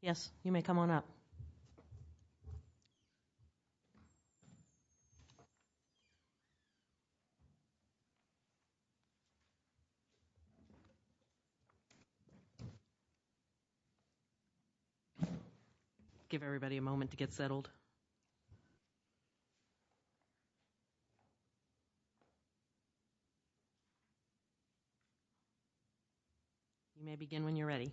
Yes, you may come on up. I'll give everybody a moment to get settled. You may begin when you're ready.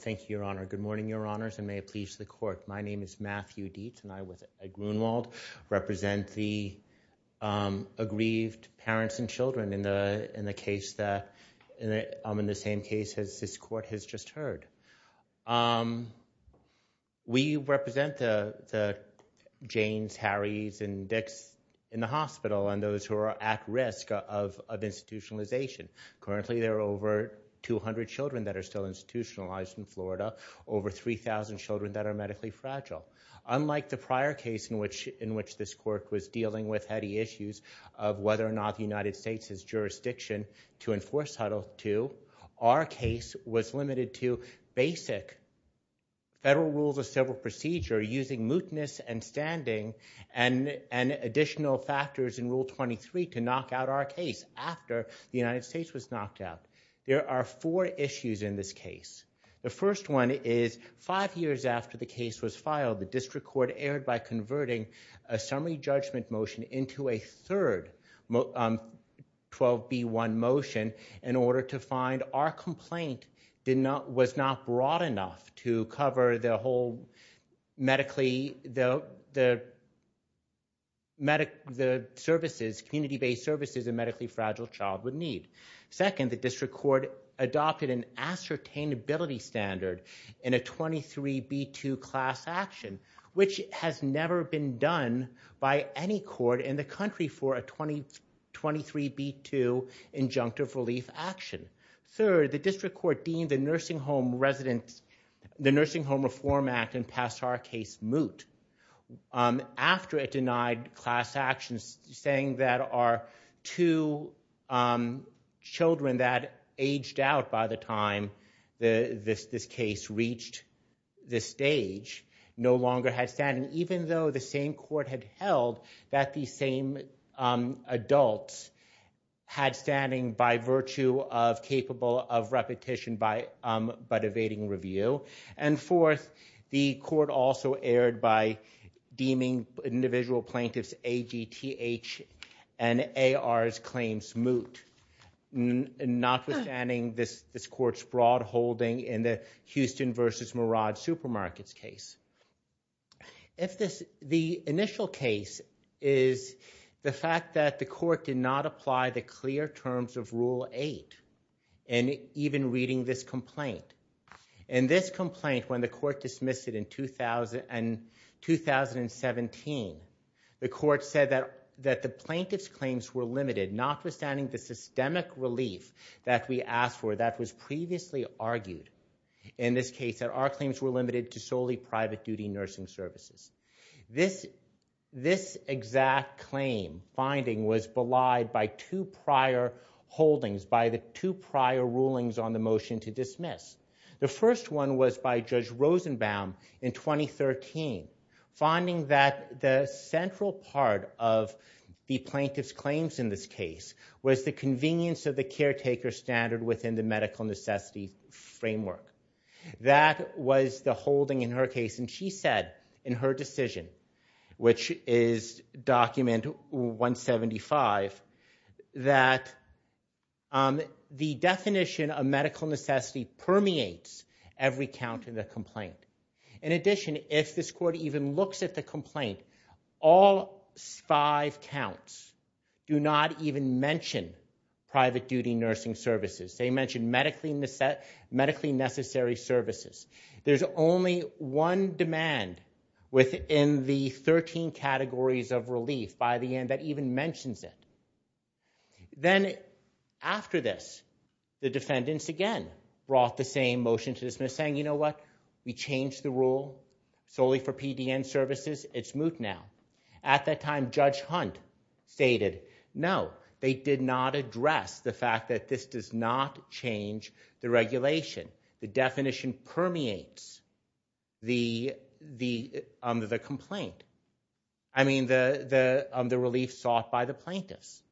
Thank you, Your Honor. Good morning, Your Honors, and may it please the Court. My name is Matthew Dietz and I, with Ed Grunewald, represent the aggrieved parents and children in the same case as this Court has just heard. We represent the Janes, Harrys, and Dicks in the hospital and those who are at risk of institutionalization. Currently, there are over 200 children that are still institutionalized in Florida, over 3,000 children that are medically fragile. Unlike the prior case in which this Court was dealing with heady issues of whether or not the United States has jurisdiction to enforce Title II, our case was limited to basic federal rules of civil procedure using mootness and standing and additional factors in Rule 23 to knock out our case after the United States was knocked out. There are four issues in this case. The first one is five years after the case was filed, the District Court erred by converting a summary judgment motion into a third 12B1 motion in order to find our complaint was not broad enough to cover the whole community-based services a medically fragile child would need. Second, the District Court adopted an ascertainability standard in a 23B2 class action, which has never been done by any court in the country for a 23B2 injunctive relief action. Third, the District Court deemed the Nursing Home Reform Act and passed our case moot after it denied class actions saying that our two children that aged out by the time this case reached this stage no longer had standing, even though the same court had held that the same adults had standing by virtue of capable of repetition but evading review. And fourth, the court also erred by deeming individual plaintiffs' AGTH and AR's claims moot, notwithstanding this court's broad holding in the Houston v. Merage Supermarkets case. The initial case is the fact that the court did not apply the clear terms of Rule 8 in even reading this complaint. In this complaint, when the court dismissed it in 2017, the court said that the plaintiff's claims were limited, notwithstanding the systemic relief that we asked for that was previously argued in this case that our claims were limited to solely private duty nursing services. This exact claim finding was belied by two prior holdings, by the two prior rulings on the motion to dismiss. The first one was by Judge Rosenbaum in 2013, finding that the central part of the plaintiff's claims in this case was the convenience of the caretaker standard within the medical necessity framework. That was the holding in her case, and she said in her decision, which is document 175, that the definition of medical necessity permeates every count in the complaint. In addition, if this court even looks at the complaint, all five counts do not even mention private duty nursing services. They mention medically necessary services. There's only one demand within the 13 categories of relief by the end that even mentions it. Then after this, the defendants again brought the same motion to dismiss, saying, you know what, we changed the rule solely for PDN services. It's moot now. At that time, Judge Hunt stated, no, they did not address the fact that this does not change the regulation. The definition permeates the complaint. I mean, the relief sought by the plaintiffs.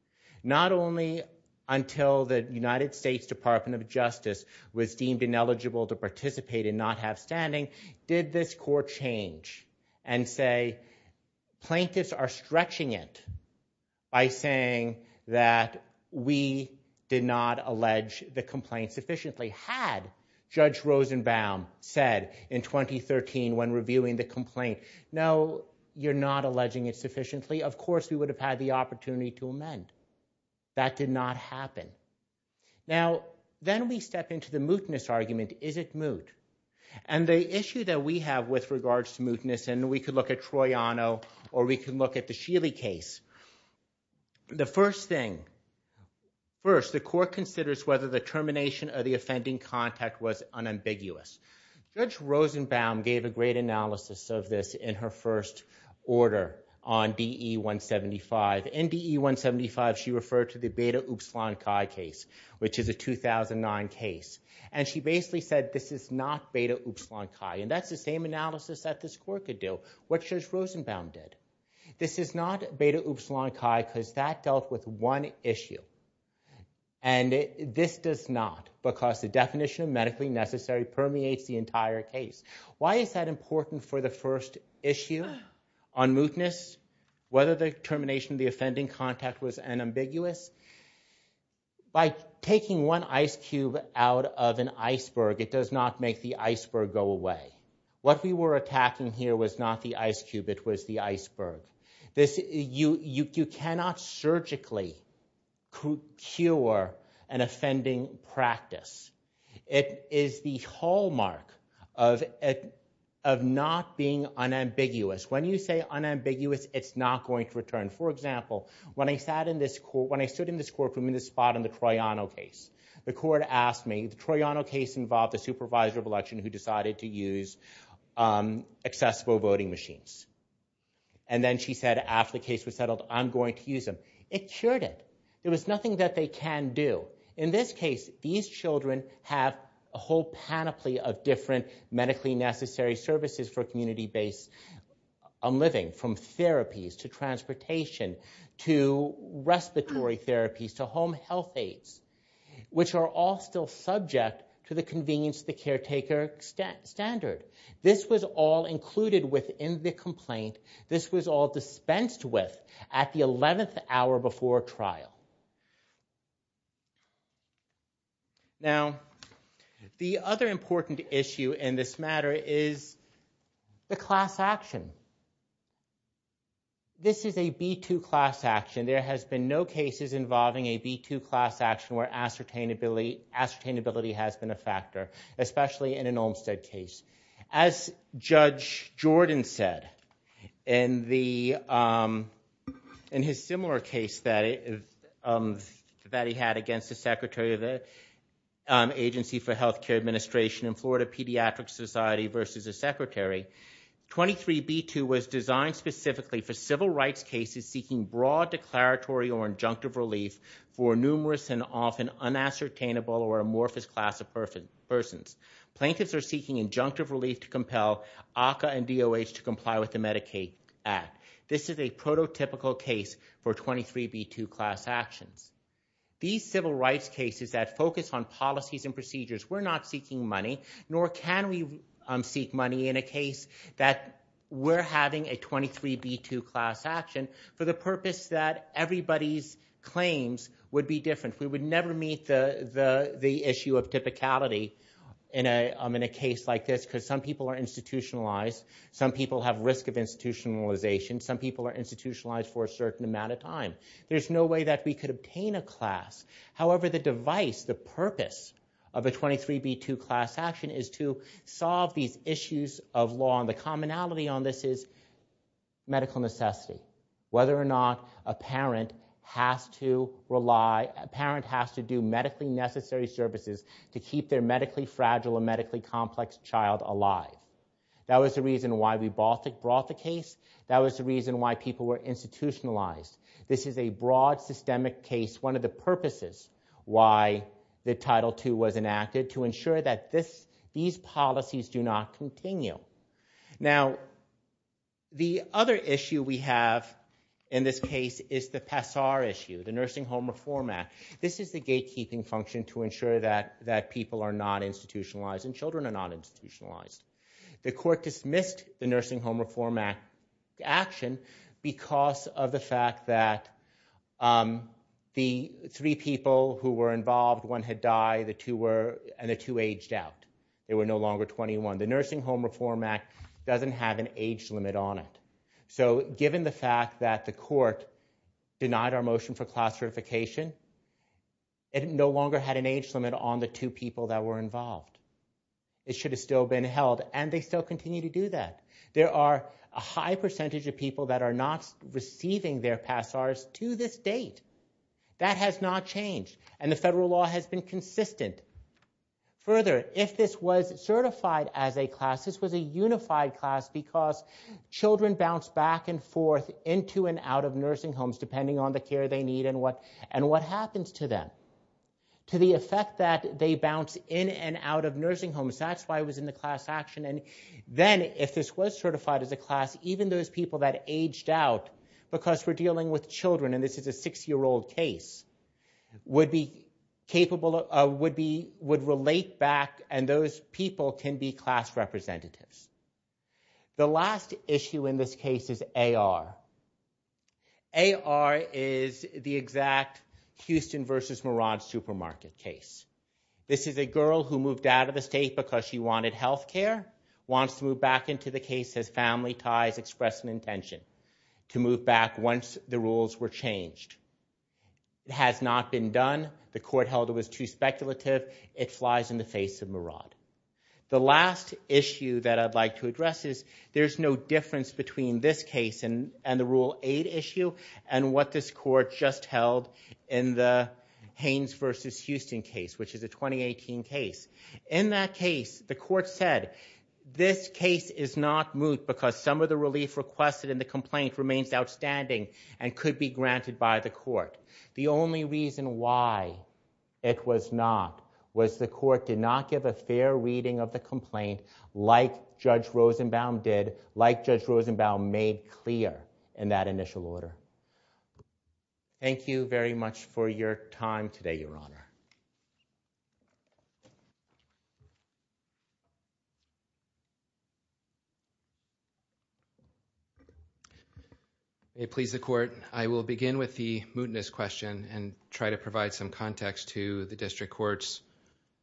Not only until the United States Department of Justice was deemed ineligible to participate and did not have standing, did this court change and say, plaintiffs are stretching it by saying that we did not allege the complaint sufficiently. Had Judge Rosenbaum said in 2013 when reviewing the complaint, no, you're not alleging it sufficiently, of course we would have had the opportunity to amend. That did not happen. Now, then we step into the mootness argument. Is it moot? And the issue that we have with regards to mootness, and we could look at Troiano or we can look at the Sheely case. The first thing, first, the court considers whether the termination of the offending contact was unambiguous. Judge Rosenbaum gave a great analysis of this in her first order on DE-175. In DE-175 she referred to the Beta Upsilon Chi case, which is a 2009 case. And she basically said this is not Beta Upsilon Chi. And that's the same analysis that this court could do, which Judge Rosenbaum did. This is not Beta Upsilon Chi because that dealt with one issue. And this does not, because the definition of medically necessary permeates the entire case. Why is that important for the first issue on mootness, whether the termination of the offending contact was unambiguous? By taking one ice cube out of an iceberg, it does not make the iceberg go away. What we were attacking here was not the ice cube, it was the iceberg. You cannot surgically cure an offending practice. It is the hallmark of not being unambiguous. When you say unambiguous, it's not going to return. For example, when I stood in this courtroom in this spot in the Troiano case, the court asked me, the Troiano case involved a supervisor of election who decided to use accessible voting machines. And then she said after the case was settled, I'm going to use them. It cured it. There was nothing that they can do. In this case, these children have a whole panoply of different medically necessary services for community-based living, from therapies to transportation to respiratory therapies to home health aids, which are all still subject to the convenience of the caretaker standard. This was all included within the complaint. This was all dispensed with at the 11th hour before trial. Now, the other important issue in this matter is the class action. This is a B2 class action. There has been no cases involving a B2 class action where ascertainability has been a factor, especially in an Olmstead case. As Judge Jordan said, in his similar case that he had against the Secretary of the Agency for Healthcare Administration in Florida Pediatric Society versus the Secretary, 23B2 was designed specifically for civil rights cases seeking broad declaratory or injunctive relief for numerous and often unassertainable or amorphous class of persons. Plaintiffs are seeking injunctive relief to compel ACCA and DOH to comply with the Medicaid Act. This is a prototypical case for 23B2 class actions. These civil rights cases that focus on policies and procedures, we're not seeking money, nor can we everybody's claims would be different. We would never meet the issue of typicality in a case like this, because some people are institutionalized. Some people have risk of institutionalization. Some people are institutionalized for a certain amount of time. There's no way that we could obtain a class. However, the device, the purpose of a 23B2 class action is to solve these issues of law. The commonality on this is medical necessity, whether or not a parent has to rely, a parent has to do medically necessary services to keep their medically fragile and medically complex child alive. That was the reason why we brought the case. That was the reason why people were institutionalized. This is a broad systemic case, one of the purposes why the Title II was enacted, to ensure that these policies do not continue. Now, the other issue we have in this case is the PASAR issue, the Nursing Home Reform Act. This is the gatekeeping function to ensure that people are not institutionalized and children are not institutionalized. The court dismissed the Nursing Home Reform Act action because of the fact that the three people who were involved, one had died and the two aged out. They were no longer 21. The Nursing Home Reform Act doesn't have an age limit on it. So given the fact that the court denied our motion for class certification, it no longer had an age limit on the two people that were involved. It should have still been held, and they still continue to do that. There are a high percentage of people that are not receiving their PASARs to this date. That has not changed, and the federal law has been consistent. Further, if this was certified as a class, this was a unified class because children bounce back and forth into and out of nursing homes depending on the care they need and what happens to them. To the effect that they bounce in and out of nursing homes, that's why it was in the class action. Then, if this was certified as a class, even those people that aged out because we're dealing with children, and this is a six-year-old case, would relate back and those people can be class representatives. The last issue in this case is AR. AR is the exact Houston versus Merage supermarket case. This is a girl who moved out of the state because she wanted health care, wants to move back into the case as family ties express an intention to move back once the rules were changed. It has not been done. The court held it was too speculative. It flies in the face of Merage. The last issue that I'd like to address is there's no difference between this case and the Rule 8 issue and what this court just held in the Haynes versus Houston case, which is a 2018 case. In that case, the court said this case is not moot because some of the relief requested in the complaint remains outstanding and could be granted by the court. The only reason why it was not was the court did not give a fair reading of the complaint like Judge Rosenbaum did, like Judge Rosenbaum made clear in that initial order. Thank you very much for your time today, Your Honor. May it please the court, I will begin with the mootness question and try to provide some context to the district court's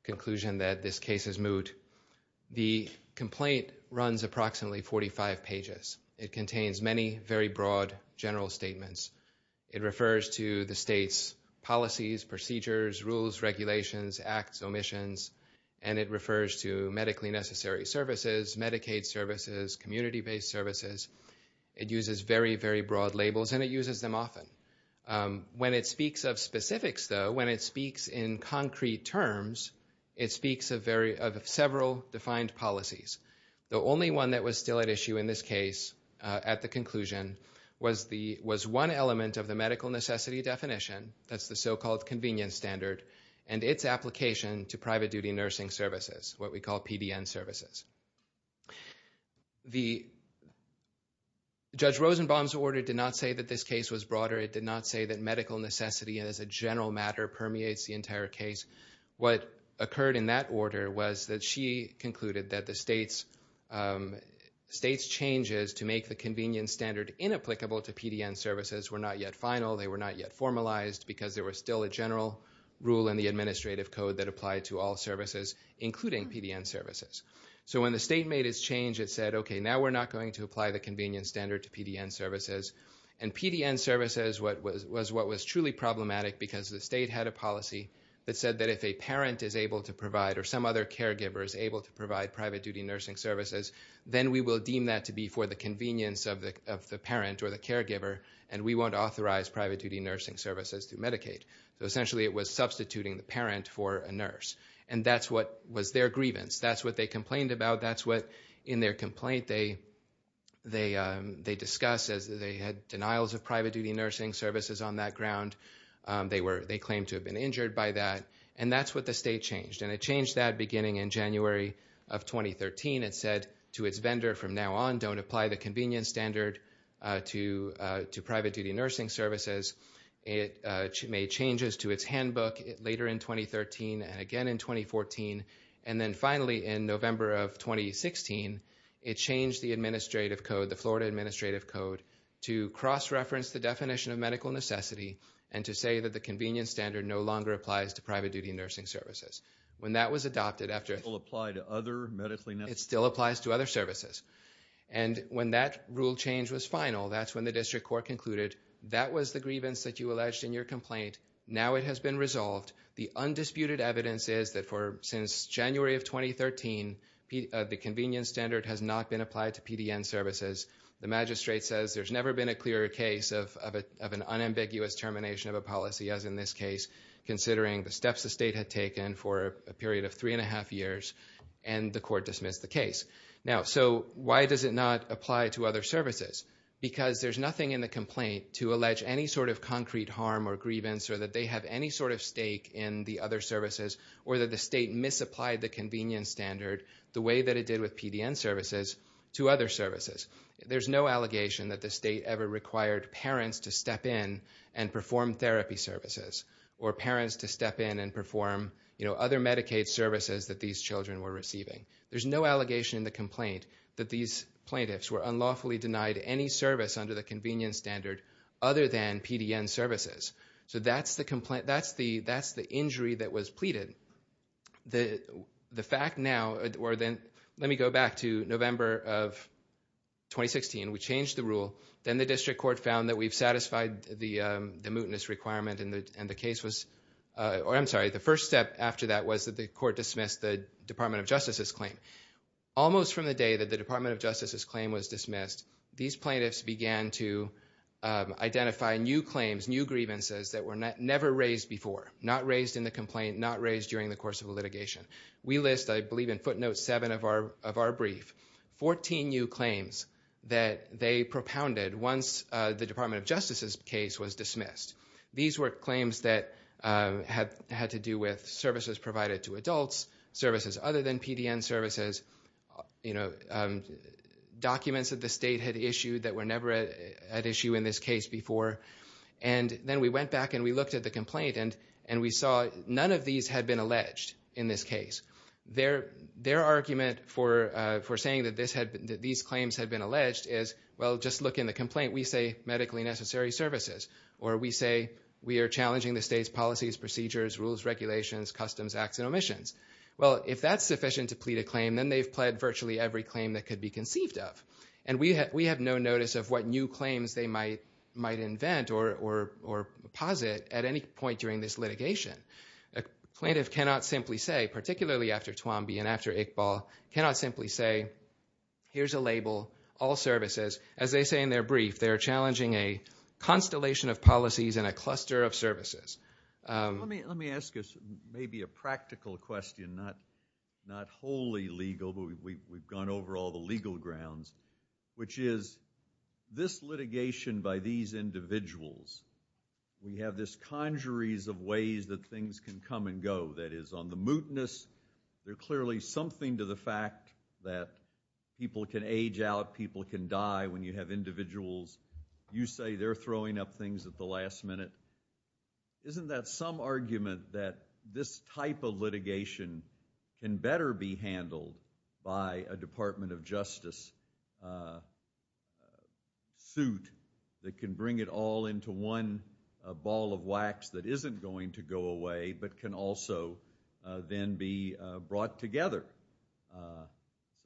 conclusion that this case is moot. The complaint runs approximately 45 pages. It contains many very broad general statements. It refers to the state's policies, procedures, rules, regulations, acts, omissions, and it refers to medically necessary services, Medicaid services, community-based services. It uses very, very broad labels and it uses them often. When it speaks of specifics, though, when it speaks in concrete terms, it speaks of several defined policies. The only one that was still at issue in this case at the conclusion was one element of the medical necessity definition, that's the so-called convenience standard, and its application to private duty nursing services, what we call PDN services. Judge Rosenbaum's order did not say that this case was broader. It did not say that medical necessity as a general matter permeates the entire case. What occurred in that order was that she concluded that the state's changes to make the convenience standard inapplicable to PDN services were not yet final, they were not yet formalized, because there was still a general rule in the administrative code that applied to all services, including PDN services. So when the state made its change, it said, okay, now we're not going to apply the convenience standard to PDN services, and PDN services was what was truly problematic because the state had a policy that said that if a parent is able to provide, or some other caregiver is able to provide, PDN services, then we will deem that to be for the convenience of the parent or the caregiver, and we won't authorize PDN services through Medicaid. So essentially it was substituting the parent for a nurse, and that's what was their grievance. That's what they complained about, that's what in their complaint they discussed, as they had denials of PDN services on that ground, they claimed to have been injured by that, and that's what the state changed, and it changed that beginning in January of 2013. It said to its vendor from now on, don't apply the convenience standard to PDN services. It made changes to its handbook later in 2013 and again in 2014, and then finally in November of 2016, it changed the administrative code, the Florida administrative code, to cross-reference the definition of medical necessity and to say that the convenience standard no longer applies to private duty nursing services. When that was adopted after... It still applies to other services. And when that rule change was final, that's when the district court concluded that was the grievance that you alleged in your complaint, now it has been resolved. The undisputed evidence is that since January of 2013, the convenience standard has not been applied to PDN services. The magistrate says there's never been a clearer case of an unambiguous termination of a policy, as in this case, considering the steps the state had taken for a period of three and a half years, and the court dismissed the case. Now, so why does it not apply to other services? Because there's nothing in the complaint to allege any sort of concrete harm or grievance or that they have any sort of stake in the other services or that the state misapplied the convenience standard the way that it did with PDN services to other services. There's no allegation that the state ever required parents to step in and perform therapy services or parents to step in and perform other Medicaid services that these children were receiving. There's no allegation in the complaint that these plaintiffs were unlawfully denied any service under the convenience standard other than PDN services. So that's the complaint. That's the injury that was pleaded. The fact now, or then let me go back to November of 2016. We changed the rule. Then the district court found that we've satisfied the mootness requirement, and the case was, or I'm sorry, the first step after that was that the court dismissed the Department of Justice's claim. Almost from the day that the Department of Justice's claim was dismissed, these plaintiffs began to identify new claims, new grievances that were never raised before, not raised in the complaint, not raised during the course of the litigation. We list, I believe, in footnote seven of our brief, 14 new claims that they propounded once the Department of Justice's case was dismissed. These were claims that had to do with services provided to adults, services other than PDN services, documents that the state had issued that were never at issue in this case before. Then we went back and we looked at the complaint, and we saw none of these had been alleged in this case. Their argument for saying that these claims had been alleged is, well, just look in the complaint. We say medically necessary services, or we say we are challenging the state's policies, procedures, rules, regulations, customs, acts, and omissions. Well, if that's sufficient to plead a claim, then they've pled virtually every claim that could be conceived of. And we have no notice of what new claims they might invent or posit at any point during this litigation. A plaintiff cannot simply say, particularly after Twomby and after Iqbal, cannot simply say, here's a label, all services. As they say in their brief, they are challenging a constellation of policies and a cluster of services. Let me ask maybe a practical question, not wholly legal, but we've gone over all the legal grounds, which is this litigation by these individuals, we have this conjuries of ways that things can come and go. That is, on the mootness, there's clearly something to the fact that people can age out, people can die when you have individuals. You say they're throwing up things at the last minute. Isn't that some argument that this type of litigation can better be handled by a Department of Justice suit that can bring it all into one ball of wax that isn't going to go away, but can also then be brought together?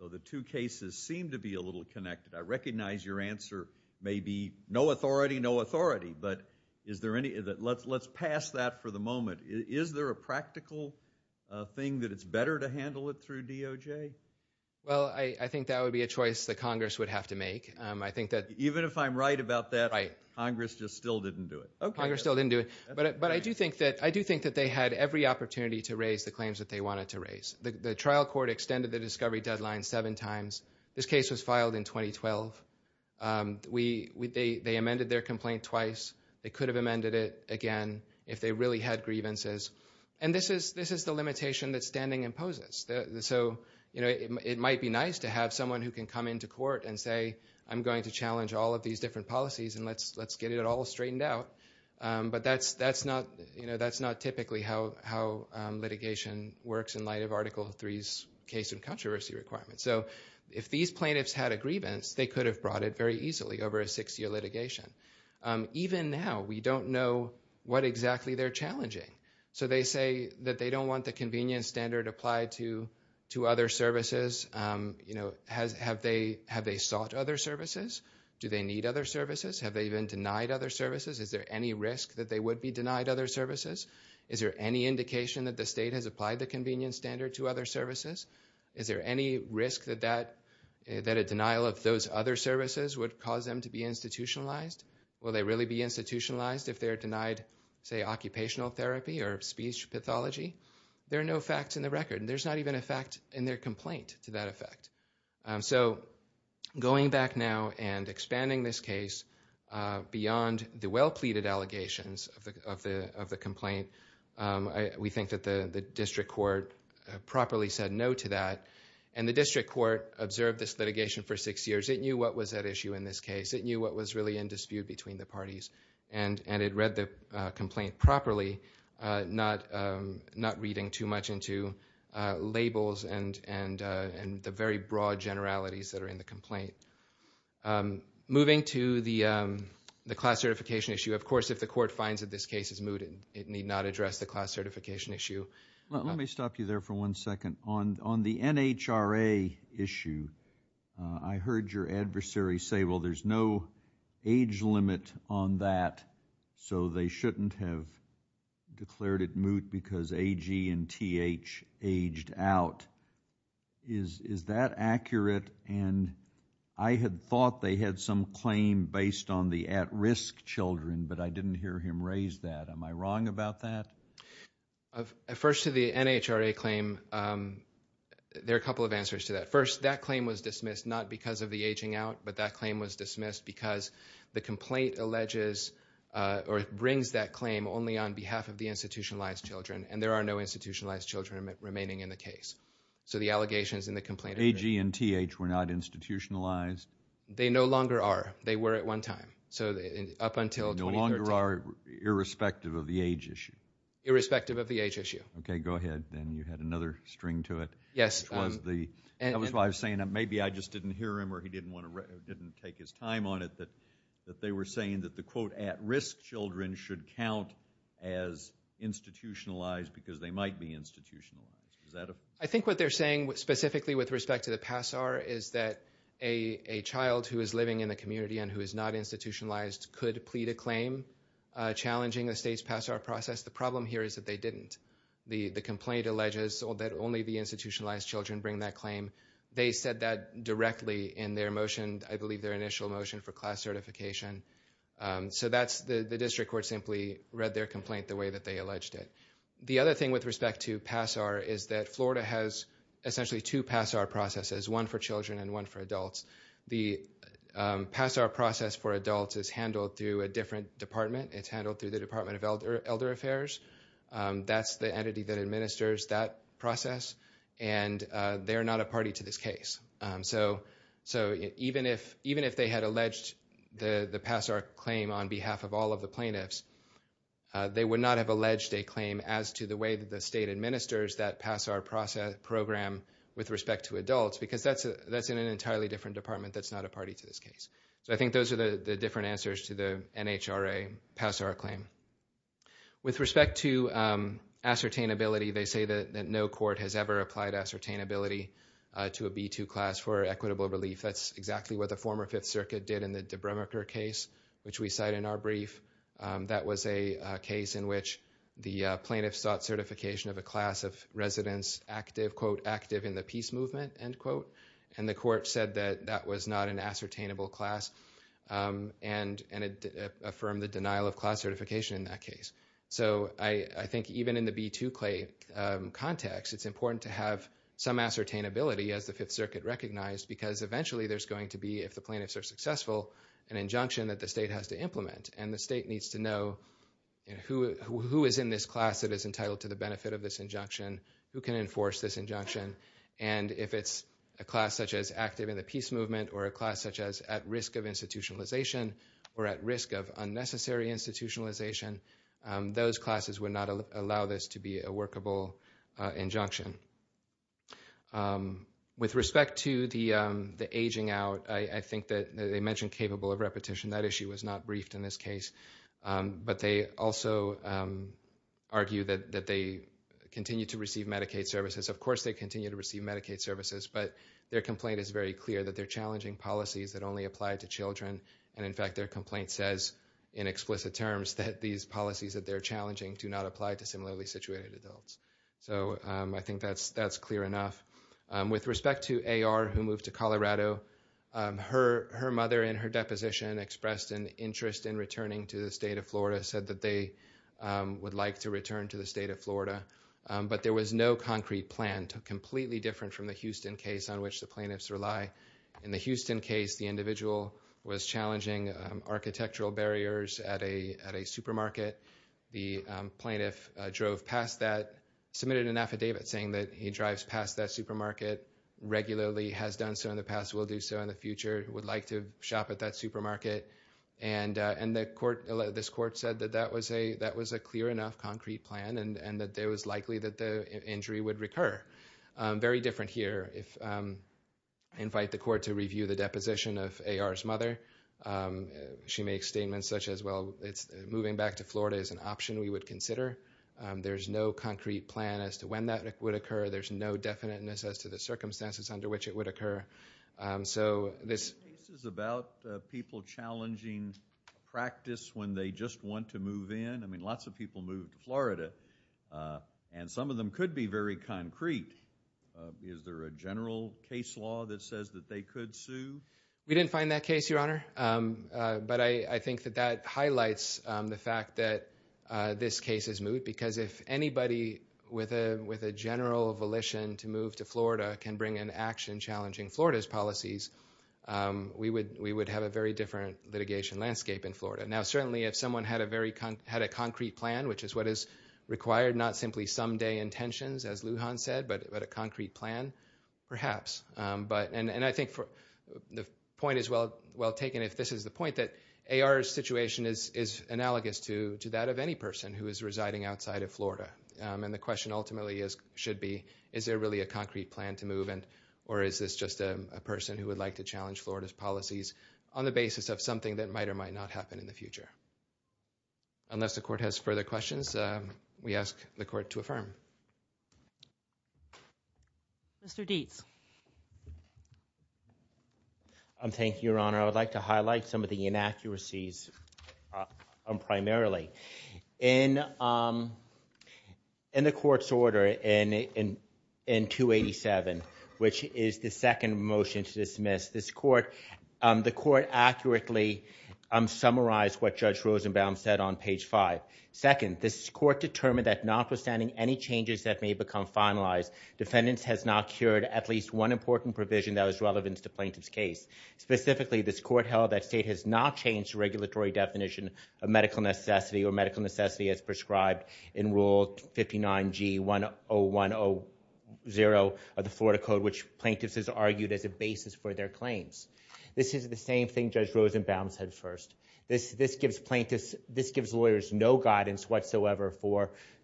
So the two cases seem to be a little connected. I recognize your answer may be no authority, no authority, but let's pass that for the moment. Is there a practical thing that it's better to handle it through DOJ? Well, I think that would be a choice that Congress would have to make. Even if I'm right about that, Congress just still didn't do it. Congress still didn't do it. But I do think that they had every opportunity to raise the claims that they wanted to raise. The trial court extended the discovery deadline seven times. This case was filed in 2012. They amended their complaint twice. They could have amended it again if they really had grievances. And this is the limitation that standing imposes. So it might be nice to have someone who can come into court and say, I'm going to challenge all of these different policies, and let's get it all straightened out. But that's not typically how litigation works in light of Article III's case and controversy requirements. So if these plaintiffs had a grievance, they could have brought it very easily over a six-year litigation. Even now, we don't know what exactly they're challenging. So they say that they don't want the convenience standard applied to other services. Have they sought other services? Do they need other services? Have they even denied other services? Is there any risk that they would be denied other services? Is there any indication that the state has applied the convenience standard to other services? Is there any risk that a denial of those other services would cause them to be institutionalized? Will they really be institutionalized if they're denied, say, occupational therapy or speech pathology? There are no facts in the record, and there's not even a fact in their complaint to that effect. So going back now and expanding this case beyond the well-pleaded allegations of the complaint, we think that the district court properly said no to that. And the district court observed this litigation for six years. It knew what was at issue in this case. It knew what was really in dispute between the parties, and it read the complaint properly, not reading too much into labels and the very broad generalities that are in the complaint. Moving to the class certification issue, of course, if the court finds that this case is moot, it need not address the class certification issue. Let me stop you there for one second. On the NHRA issue, I heard your adversary say, well, there's no age limit on that, so they shouldn't have declared it moot because AG and TH aged out. Is that accurate? And I had thought they had some claim based on the at-risk children, but I didn't hear him raise that. Am I wrong about that? First, to the NHRA claim, there are a couple of answers to that. First, that claim was dismissed not because of the aging out, but that claim was dismissed because the complaint brings that claim only on behalf of the institutionalized children, and there are no institutionalized children remaining in the case. So the allegations in the complaint are there. AG and TH were not institutionalized? They no longer are. They were at one time, so up until 2013. No longer are, irrespective of the age issue? Irrespective of the age issue. Okay, go ahead. Then you had another string to it. Yes. That was why I was saying that maybe I just didn't hear him or he didn't take his time on it, that they were saying that the quote at-risk children should count as institutionalized because they might be institutionalized. I think what they're saying specifically with respect to the PASAR is that a child who is living in the community and who is not institutionalized could plead a claim challenging the state's PASAR process. The problem here is that they didn't. The complaint alleges that only the institutionalized children bring that claim. They said that directly in their motion, I believe their initial motion for class certification. So the district court simply read their complaint the way that they alleged it. The other thing with respect to PASAR is that Florida has essentially two PASAR processes, one for children and one for adults. The PASAR process for adults is handled through a different department. It's handled through the Department of Elder Affairs. That's the entity that administers that process, and they're not a party to this case. So even if they had alleged the PASAR claim on behalf of all of the plaintiffs, they would not have alleged a claim as to the way that the state administers that PASAR program with respect to adults because that's in an entirely different department that's not a party to this case. So I think those are the different answers to the NHRA PASAR claim. With respect to ascertainability, they say that no court has ever applied ascertainability to a B-2 class for equitable relief. That's exactly what the former Fifth Circuit did in the Debromacher case, which we cite in our brief. That was a case in which the plaintiffs sought certification of a class of residents active in the peace movement, and the court said that that was not an ascertainable class and affirmed the denial of class certification in that case. So I think even in the B-2 context, it's important to have some ascertainability, as the Fifth Circuit recognized, because eventually there's going to be, if the plaintiffs are successful, an injunction that the state has to implement, and the state needs to know who is in this class that is entitled to the benefit of this injunction, who can enforce this injunction, and if it's a class such as active in the peace movement or a class such as at risk of institutionalization or at risk of unnecessary institutionalization, those classes would not allow this to be a workable injunction. With respect to the aging out, I think that they mentioned capable of repetition. That issue was not briefed in this case, but they also argue that they continue to receive Medicaid services. Of course they continue to receive Medicaid services, but their complaint is very clear that they're challenging policies that only apply to children, and in fact their complaint says in explicit terms that these policies that they're challenging do not apply to similarly situated adults. So I think that's clear enough. With respect to A.R. who moved to Colorado, her mother in her deposition expressed an interest in returning to the state of Florida, said that they would like to return to the state of Florida, but there was no concrete plan, completely different from the Houston case on which the plaintiffs rely. In the Houston case, the individual was challenging architectural barriers at a supermarket. The plaintiff drove past that, submitted an affidavit saying that he drives past that supermarket regularly, has done so in the past, will do so in the future, would like to shop at that supermarket, and this court said that that was a clear enough concrete plan and that it was likely that the injury would recur. Very different here. I invite the court to review the deposition of A.R.'s mother. She makes statements such as, well, moving back to Florida is an option we would consider. There's no concrete plan as to when that would occur. There's no definiteness as to the circumstances under which it would occur. So this is about people challenging practice when they just want to move in. I mean, lots of people moved to Florida, and some of them could be very concrete. Is there a general case law that says that they could sue? We didn't find that case, Your Honor, but I think that that highlights the fact that this case is moot because if anybody with a general volition to move to Florida can bring an action challenging Florida's policies, we would have a very different litigation landscape in Florida. Now, certainly, if someone had a concrete plan, which is what is required, not simply someday intentions, as Lujan said, but a concrete plan, perhaps. And I think the point is well taken if this is the point, that AR's situation is analogous to that of any person who is residing outside of Florida. And the question ultimately should be is there really a concrete plan to move or is this just a person who would like to challenge Florida's policies on the basis of something that might or might not happen in the future. Unless the court has further questions, we ask the court to affirm. Thank you. Mr. Dietz. Thank you, Your Honor. I would like to highlight some of the inaccuracies primarily. In the court's order in 287, which is the second motion to dismiss this court, the court accurately summarized what Judge Rosenbaum said on page 5. Second, this court determined that notwithstanding any changes that may become finalized, defendants has not cured at least one important provision that was relevant to the plaintiff's case. Specifically, this court held that state has not changed the regulatory definition of medical necessity or medical necessity as prescribed in Rule 59G10100 of the Florida Code, which plaintiffs has argued as a basis for their claims. This is the same thing Judge Rosenbaum said first. This gives lawyers no guidance whatsoever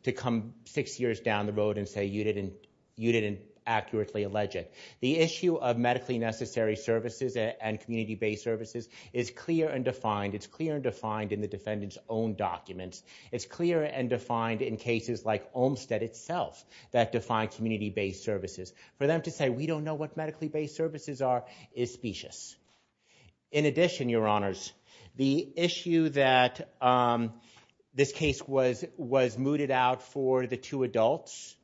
to come six years down the road and say you didn't accurately allege it. The issue of medically necessary services and community-based services is clear and defined. It's clear and defined in the defendant's own documents. It's clear and defined in cases like Olmstead itself that define community-based services. For them to say we don't know what medically-based services are is specious. In addition, Your Honors, the issue that this case was mooted out for the two adults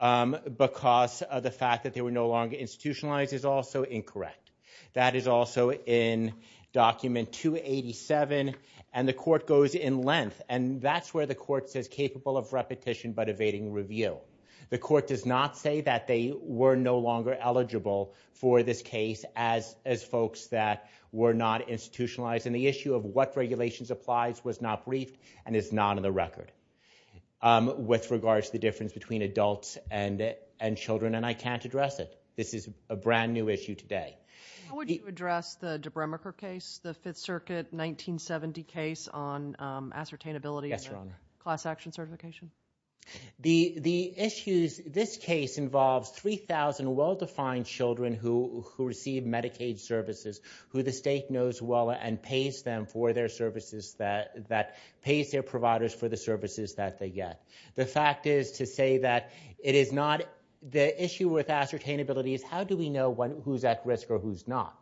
because of the fact that they were no longer institutionalized is also incorrect. That is also in Document 287, and the court goes in length, and that's where the court says capable of repetition but evading review. The court does not say that they were no longer eligible for this case as folks that were not institutionalized, and the issue of what regulations applies was not briefed and is not on the record with regards to the difference between adults and children, and I can't address it. This is a brand-new issue today. How would you address the Debremerker case, the Fifth Circuit 1970 case on ascertainability and class action certification? The issues in this case involves 3,000 well-defined children who receive Medicaid services who the state knows well and pays them for their services, that pays their providers for the services that they get. The fact is to say that it is not the issue with ascertainability is how do we know who's at risk or who's not?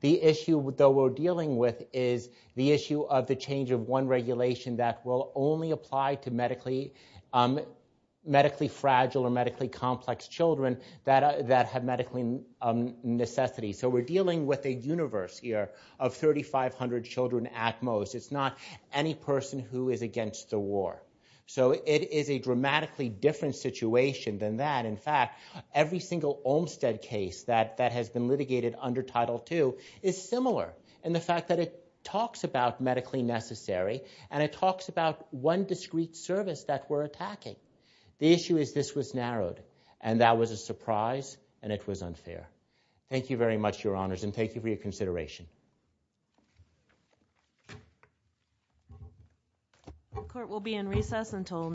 The issue, though, we're dealing with is the issue of the change of one regulation that will only apply to medically fragile or medically complex children that have medically necessity. So we're dealing with a universe here of 3,500 children at most. It's not any person who is against the war. So it is a dramatically different situation than that. In fact, every single Olmstead case that has been litigated under Title II is similar in the fact that it talks about medically necessary and it talks about one discrete service that we're attacking. The issue is this was narrowed, and that was a surprise, and it was unfair. Thank you very much, Your Honors, and thank you for your consideration.